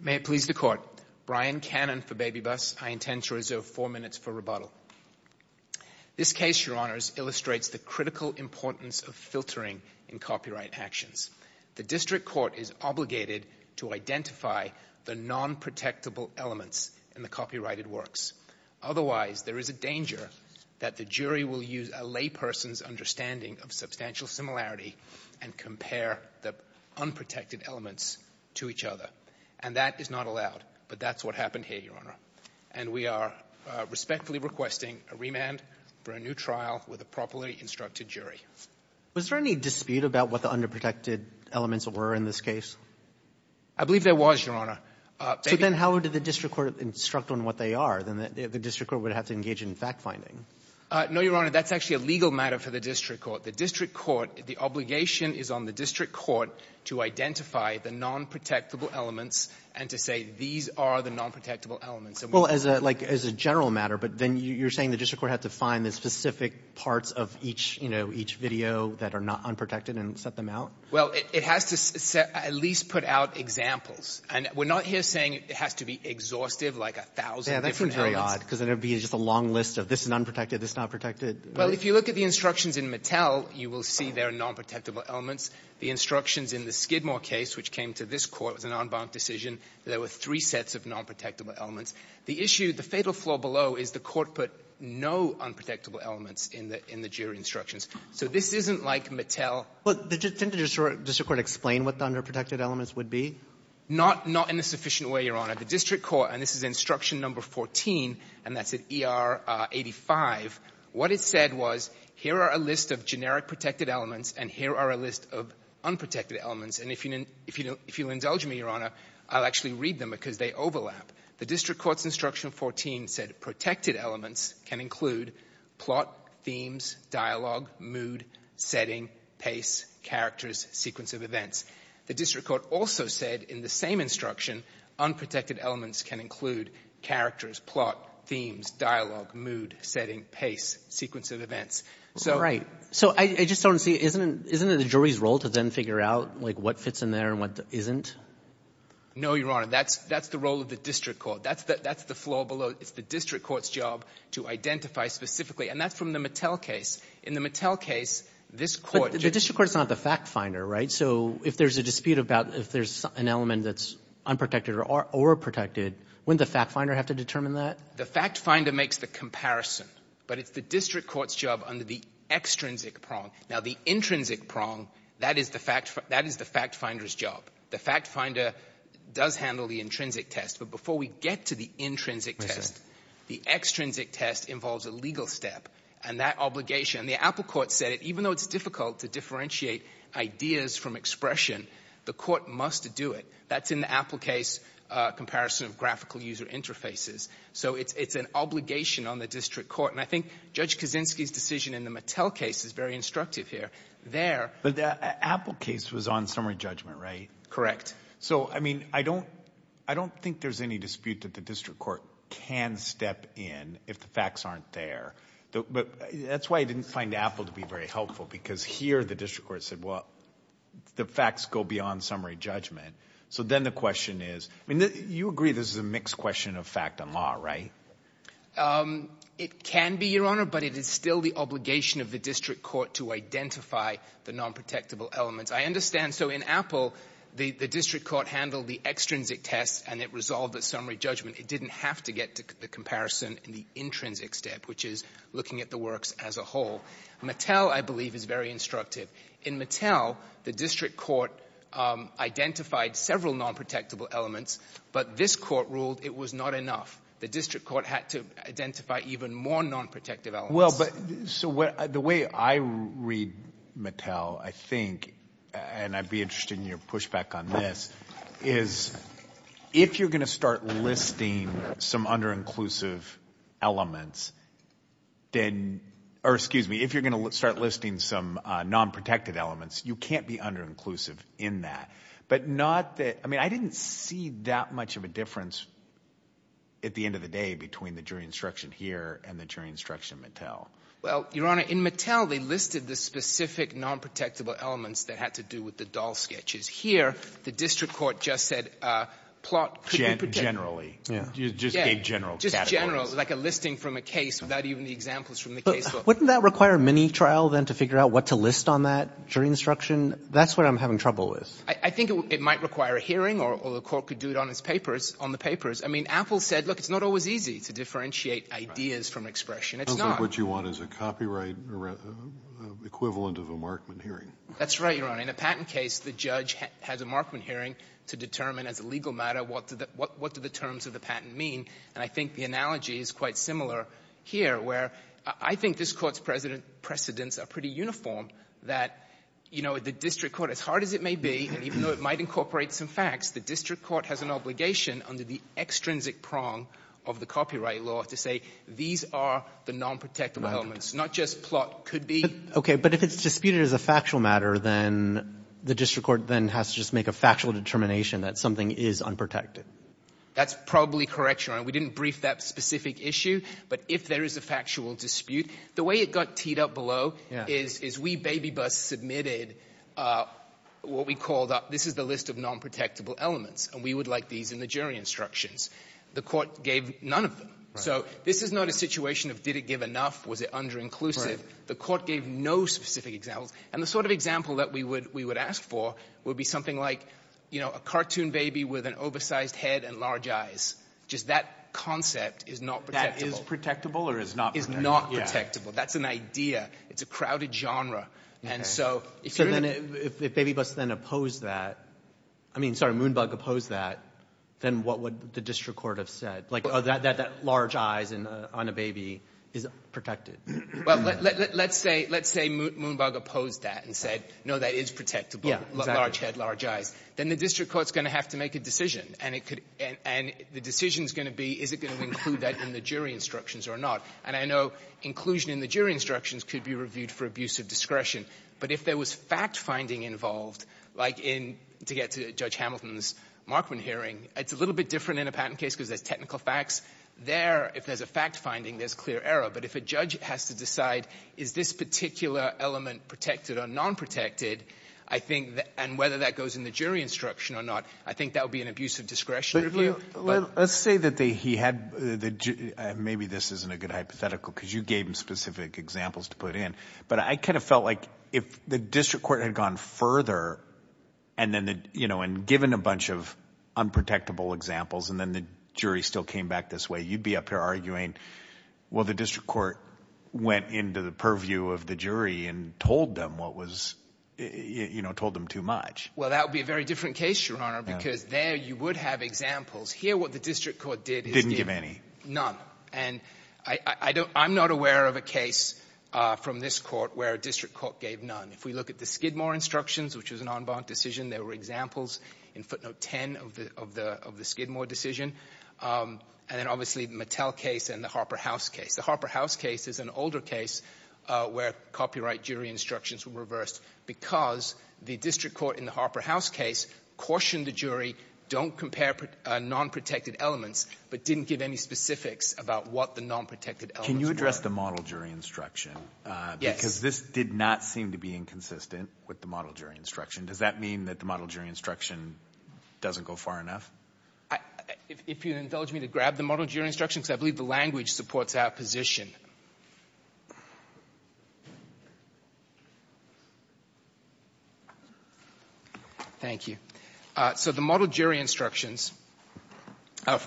May it please the Court. Brian Cannon for BabyBus. I intend to reserve four minutes for rebuttal. This case, Your Honors, illustrates the critical importance of filtering in copyright actions. The District Court is obligated to identify the non-protectable elements in the copyrighted works. Otherwise, there is a danger that the jury will use a layperson's understanding of substantial and that is not allowed. But that's what happened here, Your Honor. And we are respectfully requesting a remand for a new trial with a properly instructed jury. Was there any dispute about what the underprotected elements were in this case? I believe there was, Your Honor. So then how did the District Court instruct on what they are? Then the District Court would have to engage in fact-finding. No, Your Honor, that's actually a legal matter for the District Court. The District Court, the obligation is on the District Court to identify the non-protectable elements and to say these are the non-protectable elements. Well, as a general matter, but then you're saying the District Court had to find the specific parts of each video that are not unprotected and set them out? Well, it has to at least put out examples. And we're not here saying it has to be exhaustive like a thousand different elements. Yeah, that seems very odd because it would be just a long list of this is unprotected, this is not protected. Well, if you look at the instructions in Mattel, you will see there are non-protectable elements. The instructions in the Skidmore case, which came to this Court, was an en banc decision. There were three sets of non-protectable elements. The issue, the fatal flaw below, is the Court put no unprotectable elements in the jury instructions. So this isn't like Mattel. But didn't the District Court explain what the underprotected elements would be? Not in a sufficient way, Your Honor. The District Court, and this is instruction number 14, and that's at ER 85, what it said was, here are a list of generic protected elements and here are a list of unprotected elements. And if you indulge me, Your Honor, I'll actually read them because they overlap. The District Court's instruction 14 said, protected elements can include plot, themes, dialogue, mood, setting, pace, characters, sequence of events. The District Court also said in the same instruction, unprotected elements can include characters, plot, themes, dialogue, mood, setting, pace, sequence of events. All right. So I just don't see, isn't it the jury's role to then figure out, like, what fits in there and what isn't? No, Your Honor. That's the role of the District Court. That's the flaw below. It's the District Court's job to identify specifically. And that's from the Mattel case. In the Mattel case, this Court just — But the District Court is not the fact finder, right? So if there's a dispute about if there's an element that's unprotected or protected, wouldn't the fact finder have to determine that? The fact finder makes the comparison. But it's the District Court's job under the extrinsic prong. Now, the intrinsic prong, that is the fact finder's job. The fact finder does handle the intrinsic test. But before we get to the intrinsic test, the extrinsic test involves a legal step. And that obligation — the Apple court said, even though it's difficult to differentiate ideas from expression, the court must do it. That's in the Apple case, comparison of graphical user interfaces. So it's an obligation on the District Court. And I think Judge Kaczynski's decision in the Mattel case is very instructive here. There — But the Apple case was on summary judgment, right? Correct. So, I mean, I don't — I don't think there's any dispute that the District Court can step in if the facts aren't there. But that's why I didn't find Apple to be very helpful, because here the District Court said, well, the facts go beyond summary judgment. So then the question is — I mean, you agree this is a mixed question of fact and law, right? It can be, Your Honor, but it is still the obligation of the District Court to identify the nonprotectable elements. I understand — so in Apple, the District Court handled the extrinsic test and it resolved the summary judgment. It didn't have to get to the comparison in the intrinsic step, which is looking at the works as a whole. Mattel, I believe, is very instructive. In Mattel, the District Court identified several nonprotectable elements, but this Court ruled it was not enough. The District Court had to identify even more nonprotective elements. Well, but — so the way I read Mattel, I think — and I'd be interested in your pushback on this — is if you're going to start listing some under-inclusive elements, then — or, excuse me, if you're going to start listing some nonprotective elements, you can't be under-inclusive in that. But not that — I mean, I didn't see that much of a difference at the end of the day between the jury instruction here and the jury instruction in Mattel. Well, Your Honor, in Mattel, they listed the specific nonprotectable elements that had to do with the doll sketches. Here, the District Court just said plot could be protected. Generally. Yeah. Just a general category. Just general, like a listing from a case without even the examples from the casebook. But wouldn't that require a mini-trial, then, to figure out what to list on that jury instruction? That's what I'm having trouble with. I think it might require a hearing, or the Court could do it on its papers — on the papers. I mean, Apple said, look, it's not always easy to differentiate ideas from expression. It's not. Sounds like what you want is a copyright equivalent of a Markman hearing. That's right, Your Honor. In a patent case, the judge has a Markman hearing to determine as a legal matter what do the terms of the patent mean. And I think the analogy is quite similar here, where I think this Court's precedents are pretty uniform, that, you know, the District Court, as hard as it may be, and even though it might incorporate some facts, the District Court has an obligation under the extrinsic prong of the copyright law to say these are the nonprotectable elements, not just plot could be. Okay. But if it's disputed as a factual matter, then the District Court then has to make a factual determination that something is unprotected. That's probably correct, Your Honor. We didn't brief that specific issue. But if there is a factual dispute — the way it got teed up below is we baby busts submitted what we called up — this is the list of nonprotectable elements, and we would like these in the jury instructions. The Court gave none of them. So this is not a situation of did it give enough? Was it under-inclusive? The Court gave no specific examples. And the sort of example that we would ask for would be something like, you know, a cartoon baby with an oversized head and large eyes. Just that concept is not protectable. That is protectable or is not protectable? Is not protectable. That's an idea. It's a crowded genre. And so — So then if baby busts then oppose that — I mean, sorry, Moonbug opposed that, then what would the District Court have said? Like, oh, that large eyes on a baby is protected. Well, let's say — let's say Moonbug opposed that and said, no, that is protectable, large head, large eyes. Then the District Court is going to have to make a decision, and it could — and the decision is going to be, is it going to include that in the jury instructions or not? And I know inclusion in the jury instructions could be reviewed for abuse of discretion. But if there was fact-finding involved, like in — to get to Judge Hamilton's Markman hearing, it's a little bit different in a patent case because there's technical facts. There, if there's a fact-finding, there's clear error. But if a judge has to decide, is this particular element protected or non-protected, I think — and whether that goes in the jury instruction or not, I think that would be an abuse of discretion review. But let's say that they — he had — maybe this isn't a good hypothetical because you gave him specific examples to put in. But I kind of felt like if the District Court had gone further and then the — you know, and given a bunch of unprotectable examples, and then the jury still came back this way, you'd be up here arguing, well, the District Court went into the purview of the jury and told them what was — you know, told them too much. Well, that would be a very different case, Your Honor, because there you would have examples. Here, what the District Court did is — Didn't give any. None. And I don't — I'm not aware of a case from this court where a District Court gave none. If we look at the Skidmore instructions, which was an en banc decision, there were examples in footnote 10 of the — of the — of the Skidmore decision. And then, obviously, the Mattel case and the Harper House case. The Harper House case is an older case where copyright jury instructions were reversed because the District Court in the Harper House case cautioned the jury, don't compare non-protected elements, but didn't give any specifics about what the non-protected elements were. Can you address the model jury instruction? Yes. Because this did not seem to be inconsistent with the model jury instruction. Does that mean that the model jury instruction doesn't go far enough? If you indulge me to grab the model jury instruction, because I believe the language supports our position. Thank you. So the model jury instructions of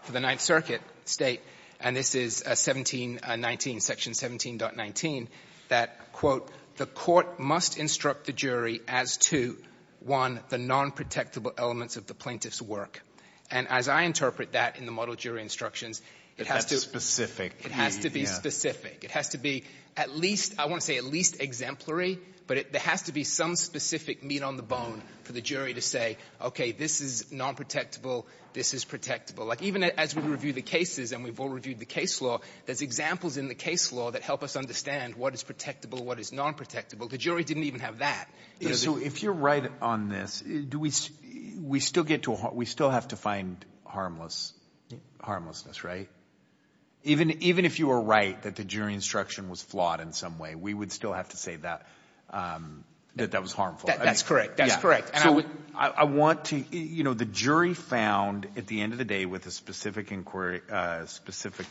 — for the Ninth Circuit State, and this is 1719, section 17.19, that, quote, the court must instruct the jury as to, one, the non-protectable elements of the plaintiff's work. And as I interpret that in the model jury instructions, it has to — That's specific. It has to be specific. It has to be at least — I want to say at least exemplary, but there has to be some specific meat on the bone for the jury to say, okay, this is non-protectable, this is protectable. Like, even as we review the cases, and we've all reviewed the case law, there's examples in the case law that help us understand what is protectable, what is non-protectable. The jury didn't even have that. So if you're right on this, do we — we still get to — we still have to find harmless — harmlessness, right? Even if you were right that the jury instruction was flawed in some way, we would still have to say that that was harmful. That's correct. That's correct. So I want to — you know, the jury found, at the end of the day, with a specific specific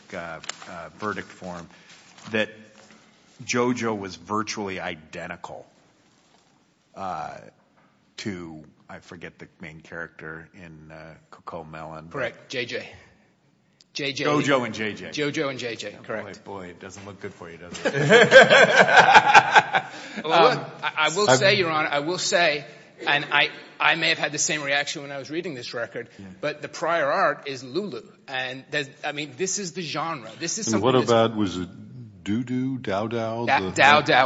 verdict form, that JoJo was virtually identical to, I forget the main character in Cuckoo Melon. Correct. J.J. J.J. JoJo and J.J. JoJo and J.J., correct. Boy, it doesn't look good for you, does it? I will say, Your Honor, I will say — and I may have had the same reaction when I was I mean, this is the genre. This is — And what about — was it Doo-Doo? Dow-Dow? Dow-Dow,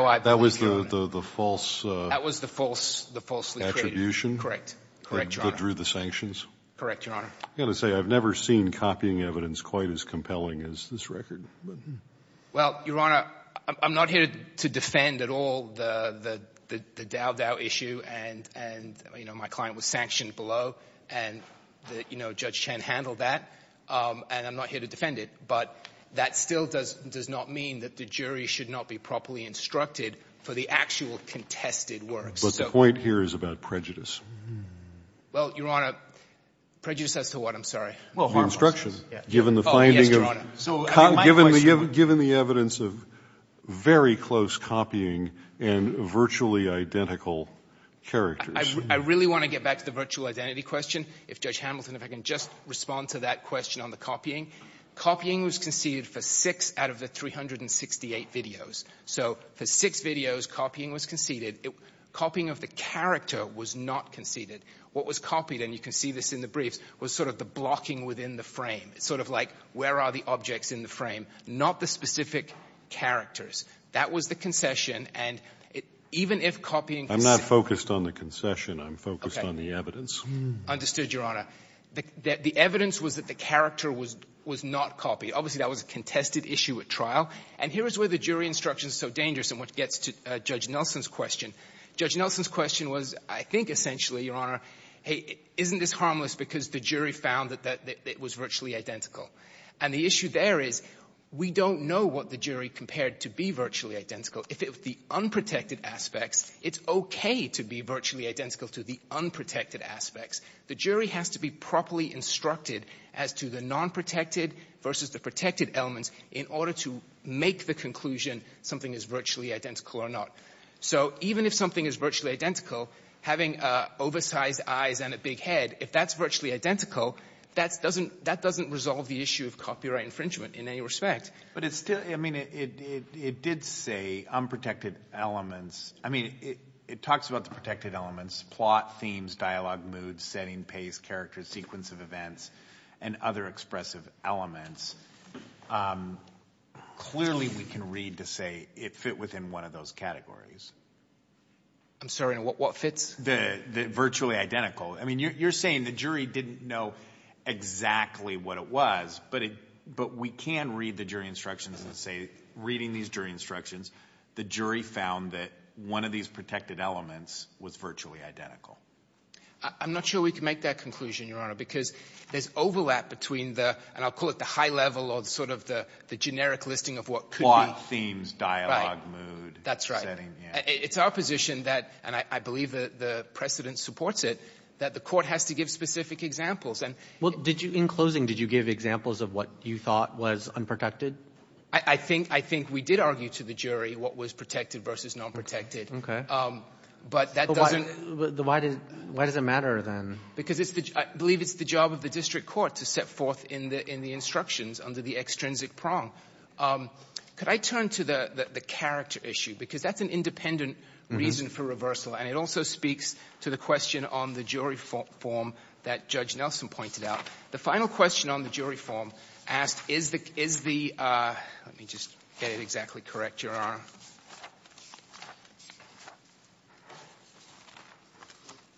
I believe, Your Honor. That was the false — That was the false — the falsely created — Correct. Correct, Your Honor. That drew the sanctions? Correct, Your Honor. I've got to say, I've never seen copying evidence quite as compelling as this record. Well, Your Honor, I'm not here to defend at all the Dow-Dow issue and, you know, my client was sanctioned below and, you know, Judge Chen handled that. And I'm not here to defend it. But that still does not mean that the jury should not be properly instructed for the actual contested works. But the point here is about prejudice. Well, Your Honor, prejudice as to what? I'm sorry. Well, harmless. The instruction, given the finding of — Oh, yes, Your Honor. So I think my question — Given the evidence of very close copying and virtually identical characters. I really want to get back to the virtual identity question. If Judge Hamilton, if I can just respond to that question on the copying. Copying was conceded for six out of the 368 videos. So for six videos, copying was conceded. Copying of the character was not conceded. What was copied — and you can see this in the briefs — was sort of the blocking within the frame. It's sort of like, where are the objects in the frame, not the specific characters. That was the concession. And even if copying — I'm not focused on the concession. I'm focused on the evidence. Understood, Your Honor. The evidence was that the character was not copied. Obviously, that was a contested issue at trial. And here is where the jury instruction is so dangerous in what gets to Judge Nelson's question. Judge Nelson's question was, I think, essentially, Your Honor, hey, isn't this harmless because the jury found that it was virtually identical? And the issue there is, we don't know what the jury compared to be virtually identical. If it was the unprotected aspects, it's okay to be virtually identical to the unprotected aspects. The jury has to be properly instructed as to the nonprotected versus the protected elements in order to make the conclusion something is virtually identical or not. So even if something is virtually identical, having oversized eyes and a big head, if that's virtually identical, that doesn't resolve the issue of copyright infringement in any respect. But it's still — I mean, it did say unprotected elements. I mean, it talks about the protected elements, plot, themes, dialogue, mood, setting, pace, character, sequence of events, and other expressive elements. Clearly, we can read to say it fit within one of those categories. I'm sorry, and what fits? The virtually identical. I mean, you're saying the jury didn't know exactly what it was, but we can read the jury instructions and say, reading these jury instructions, the jury found that one of these protected elements was virtually identical. I'm not sure we can make that conclusion, Your Honor, because there's overlap between the — and I'll call it the high level or sort of the generic listing of what could be — Plot, themes, dialogue, mood — That's right. — setting, yeah. It's our position that — and I believe that the precedent supports it — that the court has to give specific examples. Well, did you — in closing, did you give examples of what you thought was unprotected? I think — I think we did argue to the jury what was protected versus not protected. Okay. But that doesn't — But why does it matter, then? Because it's the — I believe it's the job of the district court to set forth in the instructions under the extrinsic prong. Could I turn to the character issue? Because that's an independent reason for reversal, and it also speaks to the question on the jury form that Judge Nelson pointed out. The final question on the jury form asked, is the — let me just get it exactly correct,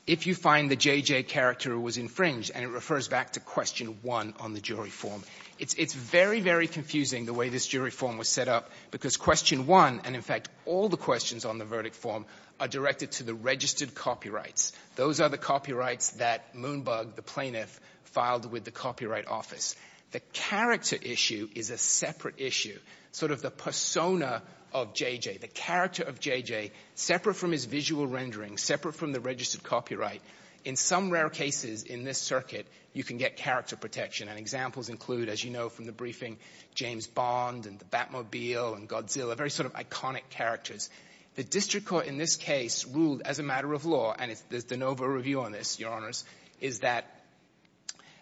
If you find the J.J. character was infringed — and it refers back to question one on the jury form — it's very, very confusing the way this jury form was set up, because question one, and in fact all the questions on the verdict form, are directed to the registered copyrights. Those are the copyrights that Moonbug, the plaintiff, filed with the copyright office. The character issue is a separate issue. Sort of the persona of J.J., the character of J.J., separate from his visual rendering, separate from the registered copyright, in some rare cases in this circuit, you can get character protection, and examples include, as you know from the briefing, James Bond and the Batmobile and Godzilla, very sort of iconic characters. The district court in this case ruled as a matter of law, and there's de novo review on this, Your Honors, is that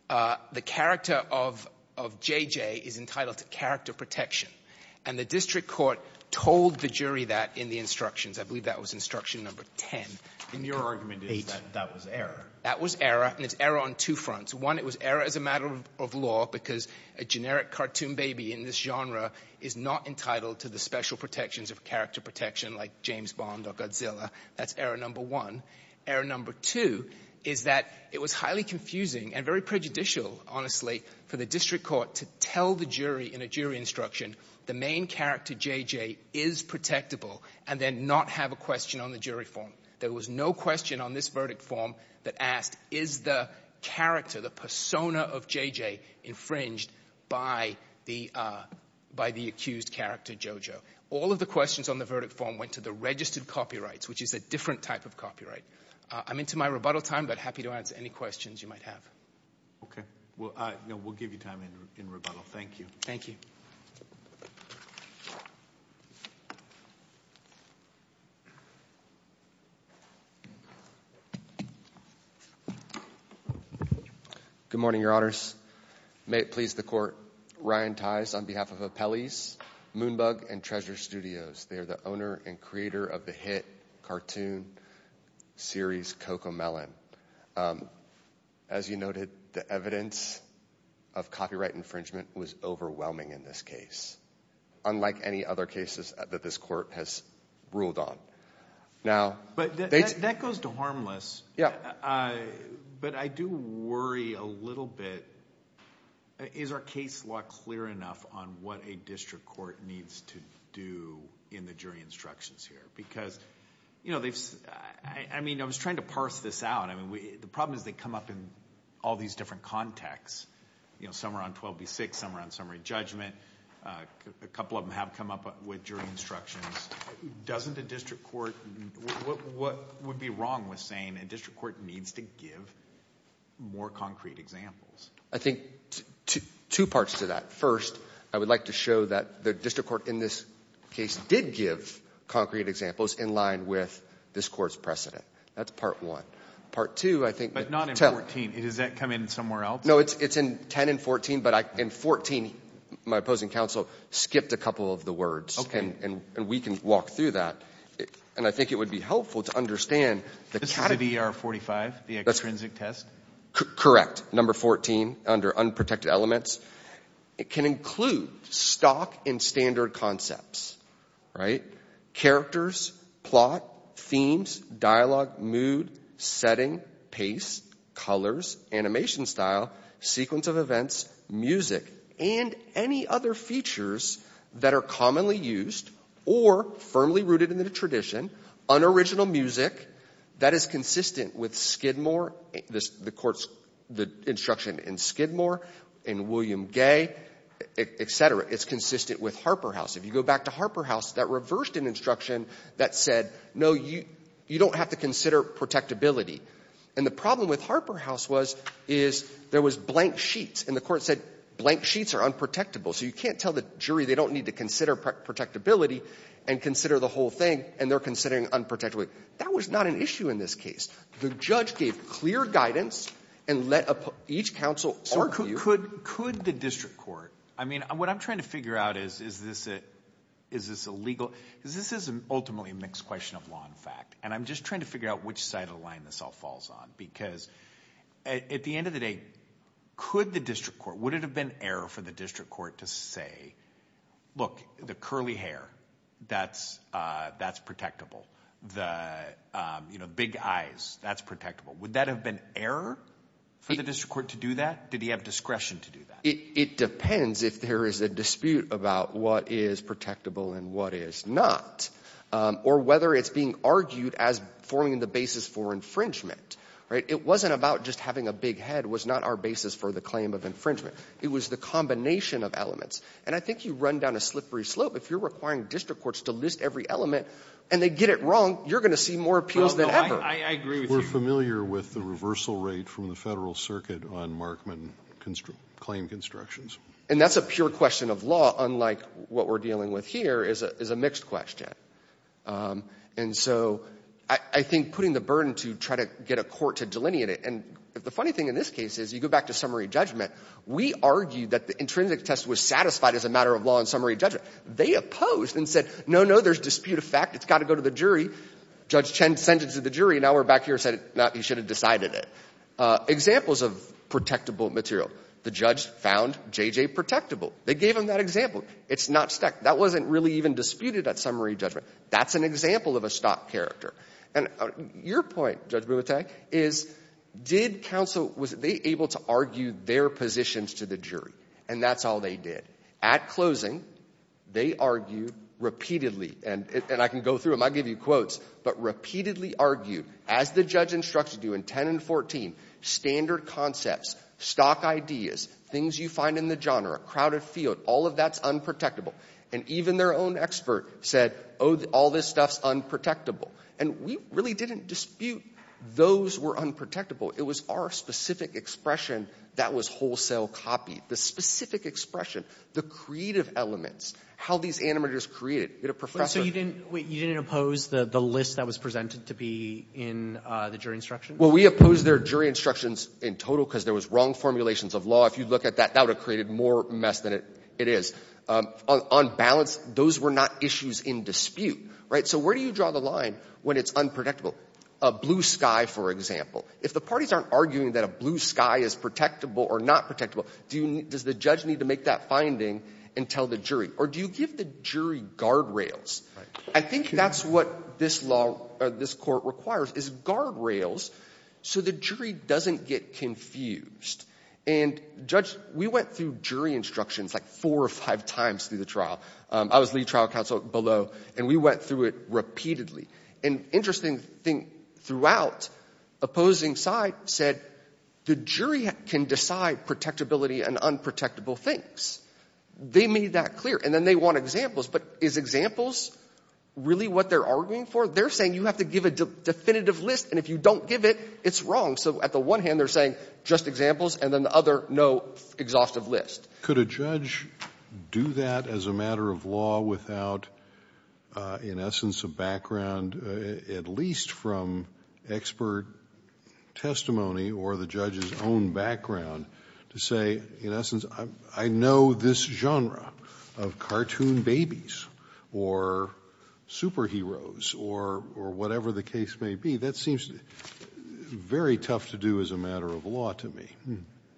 the character of J.J. is entitled to character protection, and the district court told the jury that in the instructions. I believe that was instruction number 10. And your argument is that that was error. That was error, and it's error on two fronts. One, it was error as a matter of law, because a generic cartoon baby in this genre is not entitled to the special protections of character protection, like James Bond or Godzilla. That's error number one. Error number two is that it was highly confusing and very prejudicial, honestly, for the district court to tell the jury in a jury instruction, the main character J.J. is protectable, and then not have a question on the jury form. There was no question on this verdict form that asked, is the character, the persona of J.J. infringed by the accused character, JoJo? All of the questions on the verdict form went to the registered copyrights, which is a different type of copyright. I'm into my rebuttal time, but happy to answer any questions you might have. Okay. Well, we'll give you time in rebuttal. Thank you. Thank you. Good morning, your honors. May it please the court. Ryan Tice on behalf of Apelles, Moonbug, and Treasure Studios. They are the owner and creator of the hit cartoon series, Cocomelon. As you noted, the evidence of copyright infringement was overwhelming in this case, unlike any other cases that this court has ruled on. But that goes to harmless, but I do worry a little bit, is our case law clear enough on what a district court needs to do in the jury instructions here? Because, you know, I mean, I was trying to parse this out. I mean, the problem is they come up in all these different contexts, you know, somewhere on 12B6, somewhere on summary judgment. A couple of them have come up with jury instructions. Doesn't a district court, what would be wrong with saying a district court needs to give more concrete examples? I think two parts to that. First, I would like to show that the district court in this case did give concrete examples in line with this court's precedent. That's part one. Part two, I think... But not in 14. Does that come in somewhere else? No, it's in 10 and 14. But in 14, my opposing counsel skipped a couple of the words, and we can walk through that. And I think it would be helpful to understand... This is ER 45, the extrinsic test? Correct, number 14, under unprotected elements. It can include stock and standard concepts, right? Characters, plot, themes, dialogue, mood, setting, pace, colors, animation style, sequence of events, music, and any other features that are commonly used or firmly rooted in the tradition, unoriginal music that is consistent with Skidmore, the court's instruction in William Gay, et cetera. It's consistent with Harper House. If you go back to Harper House, that reversed an instruction that said, no, you don't have to consider protectability. And the problem with Harper House was there was blank sheets, and the court said blank sheets are unprotectable, so you can't tell the jury they don't need to consider protectability and consider the whole thing, and they're considering unprotectability. That was not an issue in this case. The judge gave clear guidance and let each counsel argue... Could the district court... I mean, what I'm trying to figure out is, is this a legal... Because this is ultimately a mixed question of law and fact, and I'm just trying to figure out which side of the line this all falls on, because at the end of the day, could the district court... Would it have been error for the district court to say, look, the curly hair, that's protectable. Big eyes, that's protectable. Would that have been error for the district court to do that? Did he have discretion to do that? It depends if there is a dispute about what is protectable and what is not, or whether it's being argued as forming the basis for infringement. It wasn't about just having a big head was not our basis for the claim of infringement. It was the combination of elements, and I think you run down a slippery slope. If you're requiring district courts to list every element and they get it wrong, you're going to see more appeals than ever. I agree with you. We're familiar with the reversal rate from the federal circuit on Markman claim constructions. And that's a pure question of law, unlike what we're dealing with here is a mixed question. And so I think putting the burden to try to get a court to delineate it, and the funny thing in this case is, you go back to summary judgment, we argued that the intrinsic test was satisfied as a matter of law and summary judgment. They opposed and said, no, no, there's dispute of fact. It's got to go to the jury. Judge Chen sent it to the jury. Now we're back here and said, no, he should have decided it. Examples of protectable material. The judge found J.J. protectable. They gave him that example. It's not stuck. That wasn't really even disputed at summary judgment. That's an example of a stock character. And your point, Judge Boubitaille, is did counsel, was they able to argue their positions to the jury? And that's all they did. At closing, they argued repeatedly, and I can go through them. I'll give you quotes. But repeatedly argued, as the judge instructed you in 10 and 14, standard concepts, stock ideas, things you find in the genre, crowded field, all of that's unprotectable. And even their own expert said, oh, all this stuff's unprotectable. And we really didn't dispute those were unprotectable. It was our specific expression that was wholesale copy. The specific expression, the creative elements, how these animators created. You had a professor. So you didn't oppose the list that was presented to be in the jury instruction? Well, we opposed their jury instructions in total because there was wrong formulations of law. If you look at that, that would have created more mess than it is. On balance, those were not issues in dispute, right? So where do you draw the line when it's unprotectable? A blue sky, for example. If the parties aren't arguing that a blue sky is protectable or not protectable, does the judge need to make that finding and tell the jury? Or do you give the jury guardrails? I think that's what this law or this court requires is guardrails so the jury doesn't get confused. And judge, we went through jury instructions like four or five times through the trial. I was lead trial counsel below, and we went through it repeatedly. And interesting thing throughout, opposing side said the jury can decide protectability and unprotectable things. They made that clear. And then they want examples. But is examples really what they're arguing for? They're saying you have to give a definitive list. And if you don't give it, it's wrong. So at the one hand, they're saying just examples. And then the other, no exhaustive list. Could a judge do that as a matter of law without, in essence, a background at least from expert testimony or the judge's own background to say, in essence, I know this genre of cartoon babies or superheroes or whatever the case may be? That seems very tough to do as a matter of law to me.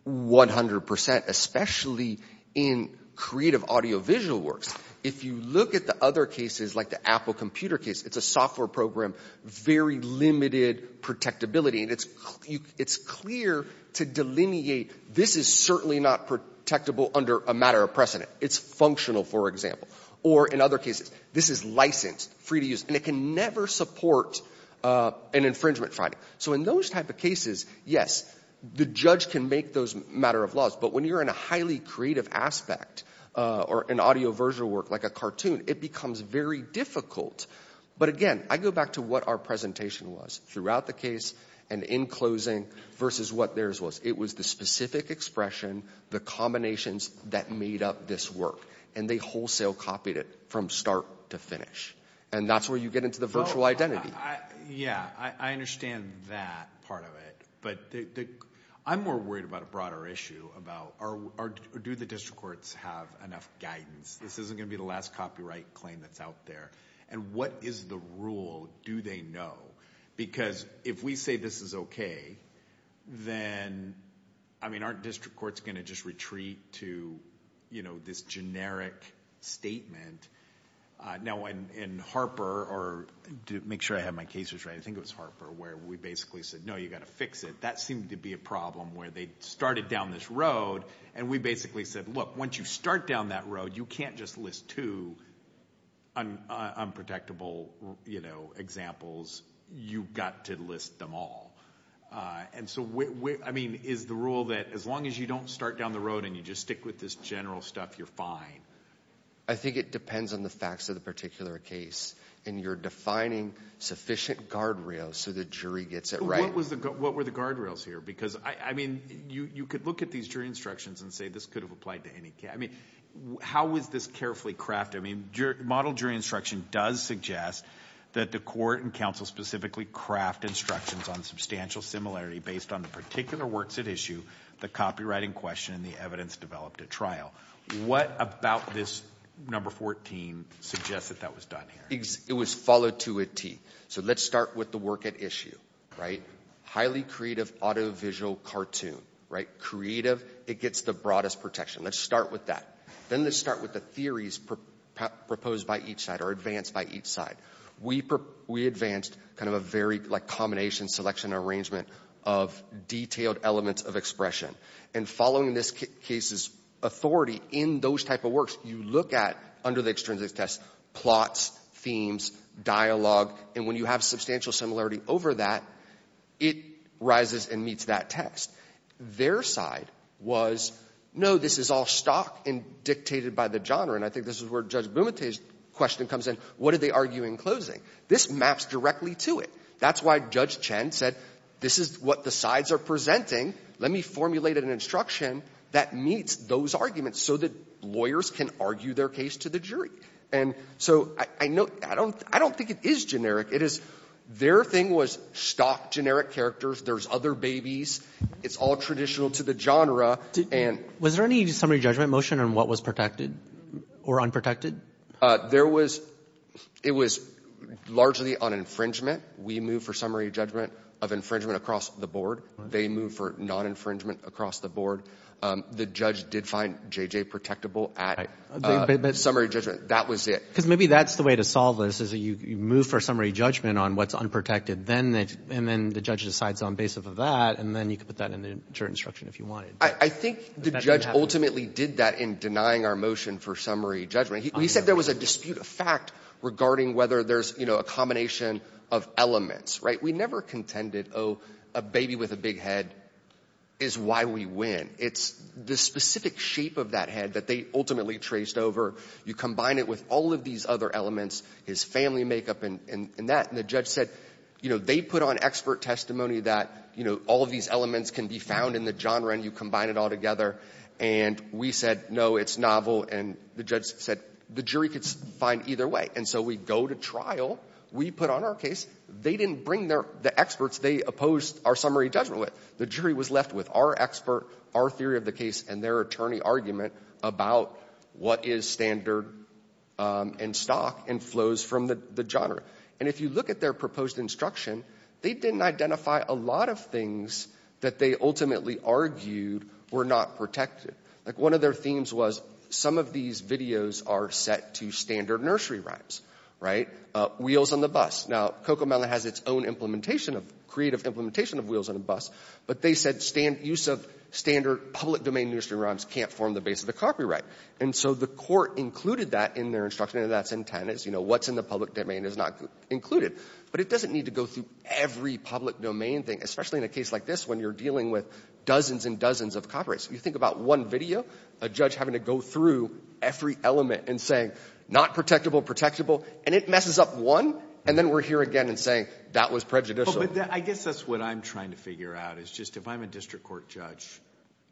100%, especially in creative audiovisual works. If you look at the other cases, like the Apple computer case, it's a software program, very limited protectability. And it's clear to delineate, this is certainly not protectable under a matter of precedent. It's functional, for example. Or in other cases, this is licensed, free to use. And it can never support an infringement finding. So in those type of cases, yes, the judge can make those matter of laws. But when you're in a highly creative aspect or an audiovisual work like a cartoon, it becomes very difficult. But again, I go back to what our presentation was throughout the case and in closing versus what theirs was. It was the specific expression, the combinations that made up this work. And they wholesale copied it from start to finish. And that's where you get into the virtual identity. Yeah, I understand that part of it. But I'm more worried about a broader issue about, do the district courts have enough guidance? This isn't going to be the last copyright claim that's out there. And what is the rule do they know? Because if we say this is okay, then, I mean, aren't district courts going to just retreat to this generic statement? Now, in Harper, or to make sure I have my cases right, I think it was Harper, where we basically said, no, you've got to fix it. That seemed to be a problem where they started down this road. And we basically said, look, once you start down that road, you can't just list two unprotectable examples. You've got to list them all. And so, I mean, is the rule that as long as you don't start down the road and you just stick with this general stuff, you're fine? I think it depends on the facts of the particular case. And you're defining sufficient guardrails so the jury gets it right. What were the guardrails here? Because, I mean, you could look at these jury instructions and say this could have applied to any case. I mean, how was this carefully crafted? I mean, model jury instruction does suggest that the court and counsel specifically craft instructions on substantial similarity based on the particular works at issue, the copywriting question, and the evidence developed at trial. What about this number 14 suggests that that was done here? It was followed to a T. So let's start with the work at issue, right? Highly creative, auto-visual cartoon, right? Creative, it gets the broadest protection. Let's start with that. Then let's start with the theories proposed by each side or advanced by each side. We advanced kind of a very, like, combination, selection, arrangement of detailed elements of expression. And following this case's authority in those type of works, you look at, under the extrinsic test, plots, themes, dialogue. And when you have substantial similarity over that, it rises and meets that test. Their side was, no, this is all stock and dictated by the genre. And I think this is where Judge Bumate's question comes in. What did they argue in closing? This maps directly to it. That's why Judge Chen said this is what the sides are presenting. Let me formulate an instruction that meets those arguments so that lawyers can argue their case to the jury. And so I don't think it is generic. It is their thing was stock generic characters. There's other babies. It's all traditional to the genre. And— Was there any summary judgment motion on what was protected or unprotected? There was—it was largely on infringement. We moved for summary judgment of infringement across the board. They moved for non-infringement across the board. The judge did find J.J. protectable at summary judgment. That was it. Because maybe that's the way to solve this, is you move for summary judgment on what's unprotected, and then the judge decides on basis of that, and then you can put that in the jury instruction if you wanted. I think the judge ultimately did that in denying our motion for summary judgment. He said there was a dispute of fact regarding whether there's a combination of elements. We never contended, oh, a baby with a big head is why we win. It's the specific shape of that head that they ultimately traced over. You combine it with all of these other elements, his family makeup and that. And the judge said, you know, they put on expert testimony that all of these elements can be found in the genre, and you combine it all together. And we said, no, it's novel. And the judge said the jury could find either way. And so we go to trial. We put on our case. They didn't bring the experts they opposed our summary judgment with. The jury was left with our expert, our theory of the case, and their attorney argument about what is standard in stock and flows from the genre. And if you look at their proposed instruction, they didn't identify a lot of things that they ultimately argued were not protected. Like one of their themes was some of these videos are set to standard nursery rhymes, right, wheels on the bus. Now, Cocomelon has its own implementation of creative implementation of wheels on a bus, but they said use of standard public domain nursery rhymes can't form the base of the copyright. And so the court included that in their instruction, and that's intended. You know, what's in the public domain is not included. But it doesn't need to go through every public domain thing, especially in a case like this when you're dealing with dozens and dozens of copyrights. You think about one video, a judge having to go through every element and say, not protectable, protectable, and it messes up one, and then we're here again and saying that was prejudicial. I guess that's what I'm trying to figure out is just if I'm a district court judge,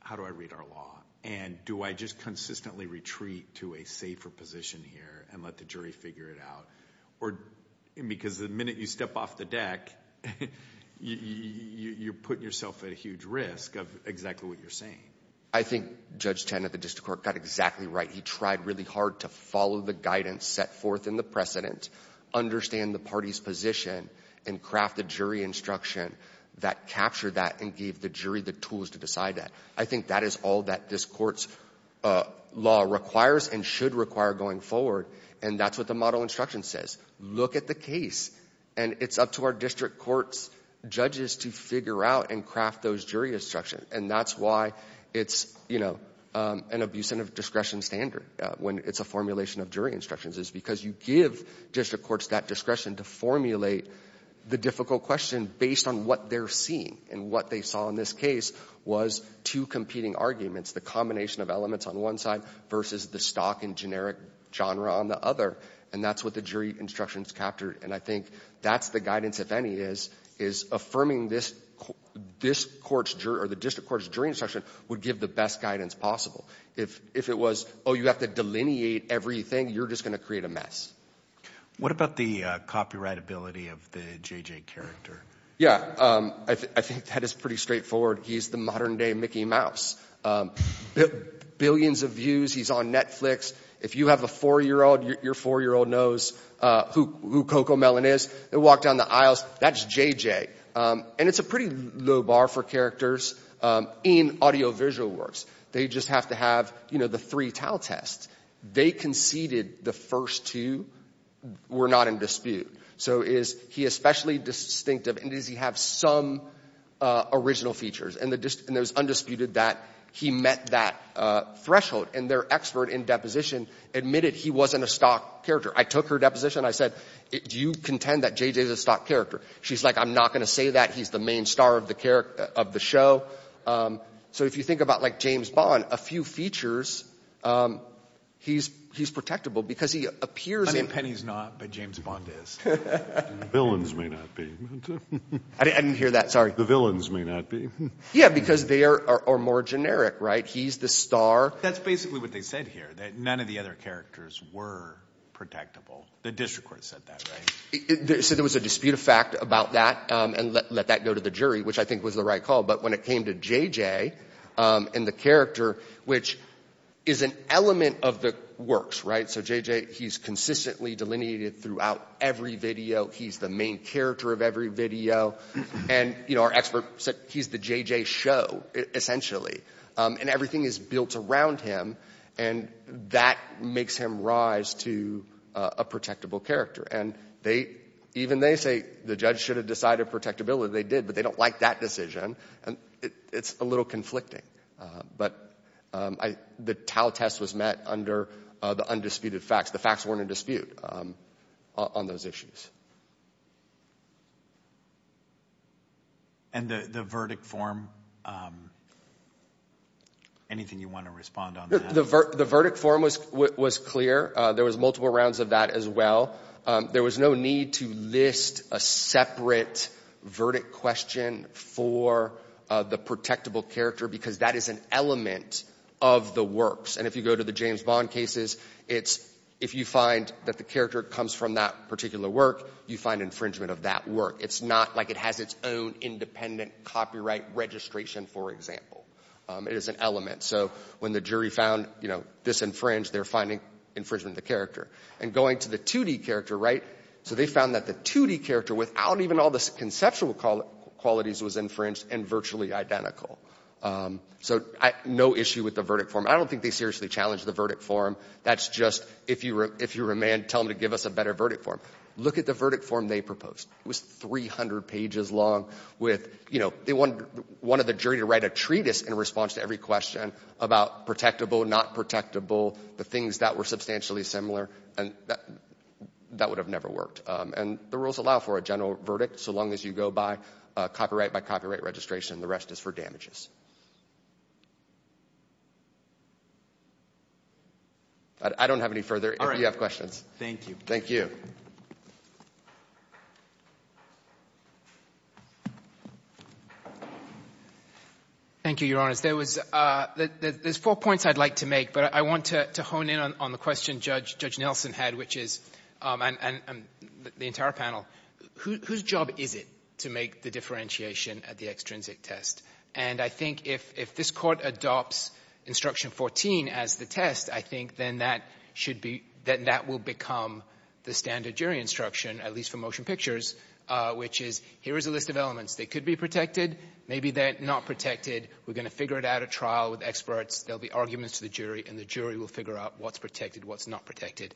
how do I read our law? And do I just consistently retreat to a safer position here and let the jury figure it out? Because the minute you step off the deck, you're putting yourself at a huge risk of exactly what you're saying. I think Judge Tan at the district court got exactly right. He tried really hard to follow the guidance set forth in the precedent, understand the party's position, and craft a jury instruction that captured that and gave the jury the tools to decide that. I think that is all that this court's law requires and should require going forward. And that's what the model instruction says. Look at the case. And it's up to our district court's judges to figure out and craft those jury instructions. And that's why it's an abuse of discretion standard when it's a formulation of jury instructions is because you give district courts that discretion to formulate the difficult question based on what they're seeing and what they saw in this case was two competing arguments, the combination of elements on one side versus the stock and generic genre on the other. And that's what the jury instructions captured. And I think that's the guidance, if any, is affirming this court's jury or the district court's jury instruction would give the best guidance possible. If it was, oh, you have to delineate everything, you're just going to create a mess. What about the copyrightability of the J.J. character? Yeah, I think that is pretty straightforward. He's the modern day Mickey Mouse. Billions of views. He's on Netflix. If you have a four-year-old, your four-year-old knows who Coco Mellon is. They walk down the aisles, that's J.J. And it's a pretty low bar for characters in audiovisual works. They just have to have, you know, the three towel tests. They conceded the first two were not in dispute. So is he especially distinctive and does he have some original features? And there's undisputed that he met that threshold. And their expert in deposition admitted he wasn't a stock character. I took her deposition. I said, do you contend that J.J. is a stock character? She's like, I'm not going to say that. He's the main star of the show. So if you think about like James Bond, a few features, he's protectable because he appears I mean, Penny's not, but James Bond is. Villains may not be. I didn't hear that. Sorry. The villains may not be. Yeah, because they are more generic, right? He's the star. That's basically what they said here, that none of the other characters were protectable. The district court said that, right? So there was a dispute of fact about that and let that go to the jury, which I think was the right call. But when it came to J.J. and the character, which is an element of the works, right? So J.J., he's consistently delineated throughout every video. He's the main character of every video. And, you know, our expert said he's the J.J. show, essentially. And everything is built around him and that makes him rise to a protectable character. And even they say the judge should have decided protectability. They did, but they don't like that decision. And it's a little conflicting. But the Tao test was met under the undisputed facts. The facts weren't in dispute on those issues. And the verdict form, anything you want to respond on that? The verdict form was clear. There was multiple rounds of that as well. There was no need to list a separate verdict question for the protectable character because that is an element of the works. And if you go to the James Bond cases, it's if you find that the character comes from that particular work, you find infringement of that work. It's not like it has its own independent copyright registration, for example. It is an element. So when the jury found, you know, this infringed, they're finding infringement of the character. And going to the 2D character, right, so they found that the 2D character without even all the conceptual qualities was infringed and virtually identical. So no issue with the verdict form. I don't think they seriously challenged the verdict form. That's just if you were a man, tell them to give us a better verdict form. Look at the verdict form they proposed. It was 300 pages long with, you know, they wanted the jury to write a treatise in response to every question about protectable, not protectable, the things that were substantially similar. And that would have never worked. And the rules allow for a general verdict so long as you go by copyright by copyright registration. The rest is for damages. I don't have any further if you have questions. Thank you. Thank you. Thank you, Your Honors. There's four points I'd like to make, but I want to hone in on the question Judge Nelson had, which is, and the entire panel, whose job is it to make the differentiation at the extrinsic test? And I think if this Court adopts Instruction 14 as the test, I think then that should be, then that will become the standard jury instruction, at least for motion pictures, which is, here is a list of elements. They could be protected. Maybe they're not protected. We're going to figure it out at trial with experts. There'll be arguments to the jury, and the jury will figure out what's protected, what's not protected.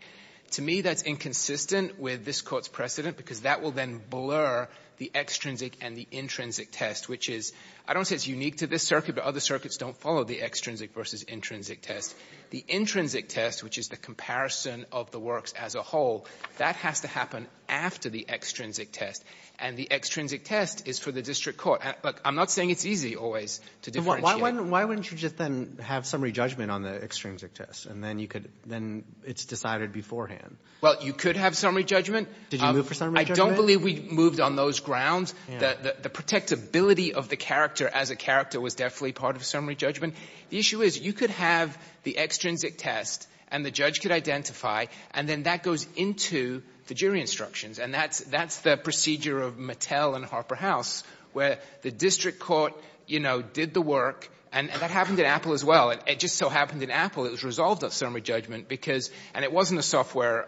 To me, that's inconsistent with this Court's precedent because that will then blur the extrinsic and the intrinsic test, which is, I don't say it's unique to this circuit, but other circuits don't follow the extrinsic versus intrinsic test. The intrinsic test, which is the comparison of the works as a whole, that has to happen after the extrinsic test. And the extrinsic test is for the district court. But I'm not saying it's easy always to differentiate. Why wouldn't you just then have summary judgment on the extrinsic test, and then you could, then it's decided beforehand? Well, you could have summary judgment. Did you move for summary judgment? I don't believe we moved on those grounds. The protectability of the character as a character was definitely part of summary judgment. The issue is, you could have the extrinsic test, and the judge could identify, and then that goes into the jury instructions. And that's the procedure of Mattel and Harper House, where the district court, you know, did the work. And that happened at Apple as well. It just so happened in Apple, it was resolved at summary judgment because—and it wasn't a software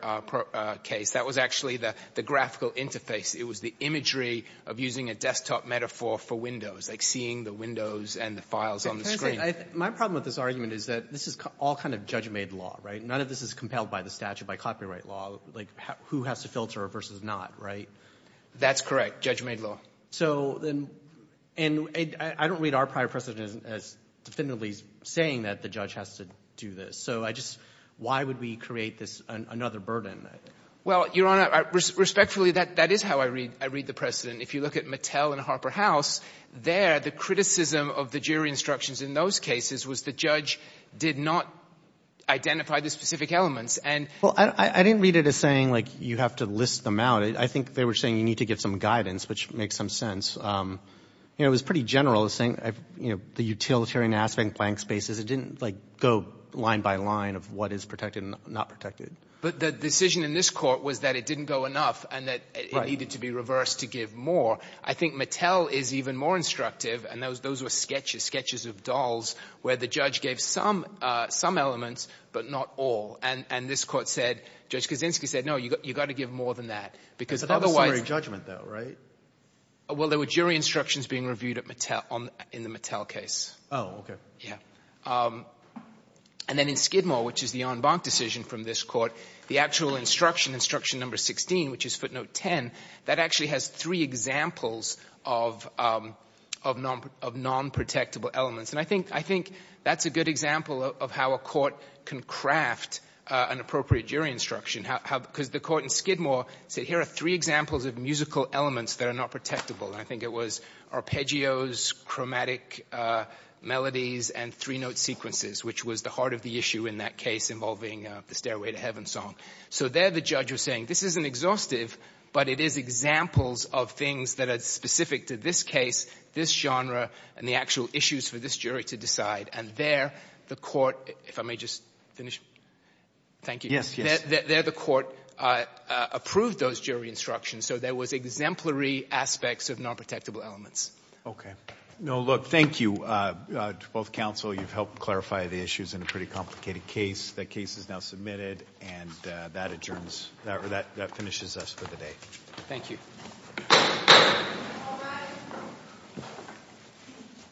case. That was actually the graphical interface. It was the imagery of using a desktop metaphor for Windows, like seeing the windows and the files on the screen. My problem with this argument is that this is all kind of judge-made law, right? None of this is compelled by the statute, by copyright law, like who has to filter versus not, right? That's correct. Judge-made law. So then, and I don't read our prior precedent as definitively saying that the judge has to do this. So I just, why would we create this, another burden? Well, Your Honor, respectfully, that is how I read the precedent. If you look at Mattel and Harper House, there, the criticism of the jury instructions in those cases was the judge did not identify the specific elements. And— Well, I didn't read it as saying, like, you have to list them out. I think they were saying you need to give some guidance, which makes some sense. You know, it was pretty general, saying, you know, the utilitarian aspect and blank spaces, it didn't, like, go line by line of what is protected and not protected. But the decision in this court was that it didn't go enough and that it needed to be reversed to give more. I think Mattel is even more instructive. And those were sketches, sketches of dolls, where the judge gave some elements, but not all. And this court said, Judge Kaczynski said, no, you've got to give more than that. Because otherwise— But that was summary judgment, though, right? Well, there were jury instructions being reviewed at Mattel, in the Mattel case. Oh, okay. Yeah. And then in Skidmore, which is the en banc decision from this court, the actual instruction, instruction number 16, which is footnote 10, that actually has three examples of non-protectable elements. And I think that's a good example of how a court can craft an appropriate jury instruction. Because the court in Skidmore said, here are three examples of musical elements that are not protectable. I think it was arpeggios, chromatic melodies, and three-note sequences, which was the heart of the issue in that case involving the Stairway to Heaven song. So there, the judge was saying, this isn't exhaustive, but it is examples of things that are specific to this case, this genre, and the actual issues for this jury to decide. And there, the court—if I may just finish. Thank you. Yes, yes. There, the court approved those jury instructions. So there was exemplary aspects of non-protectable elements. No, look, thank you to both counsel. You've helped clarify the issues in a pretty complicated case. That case is now submitted, and that adjourns—that finishes us for the day. Thank you.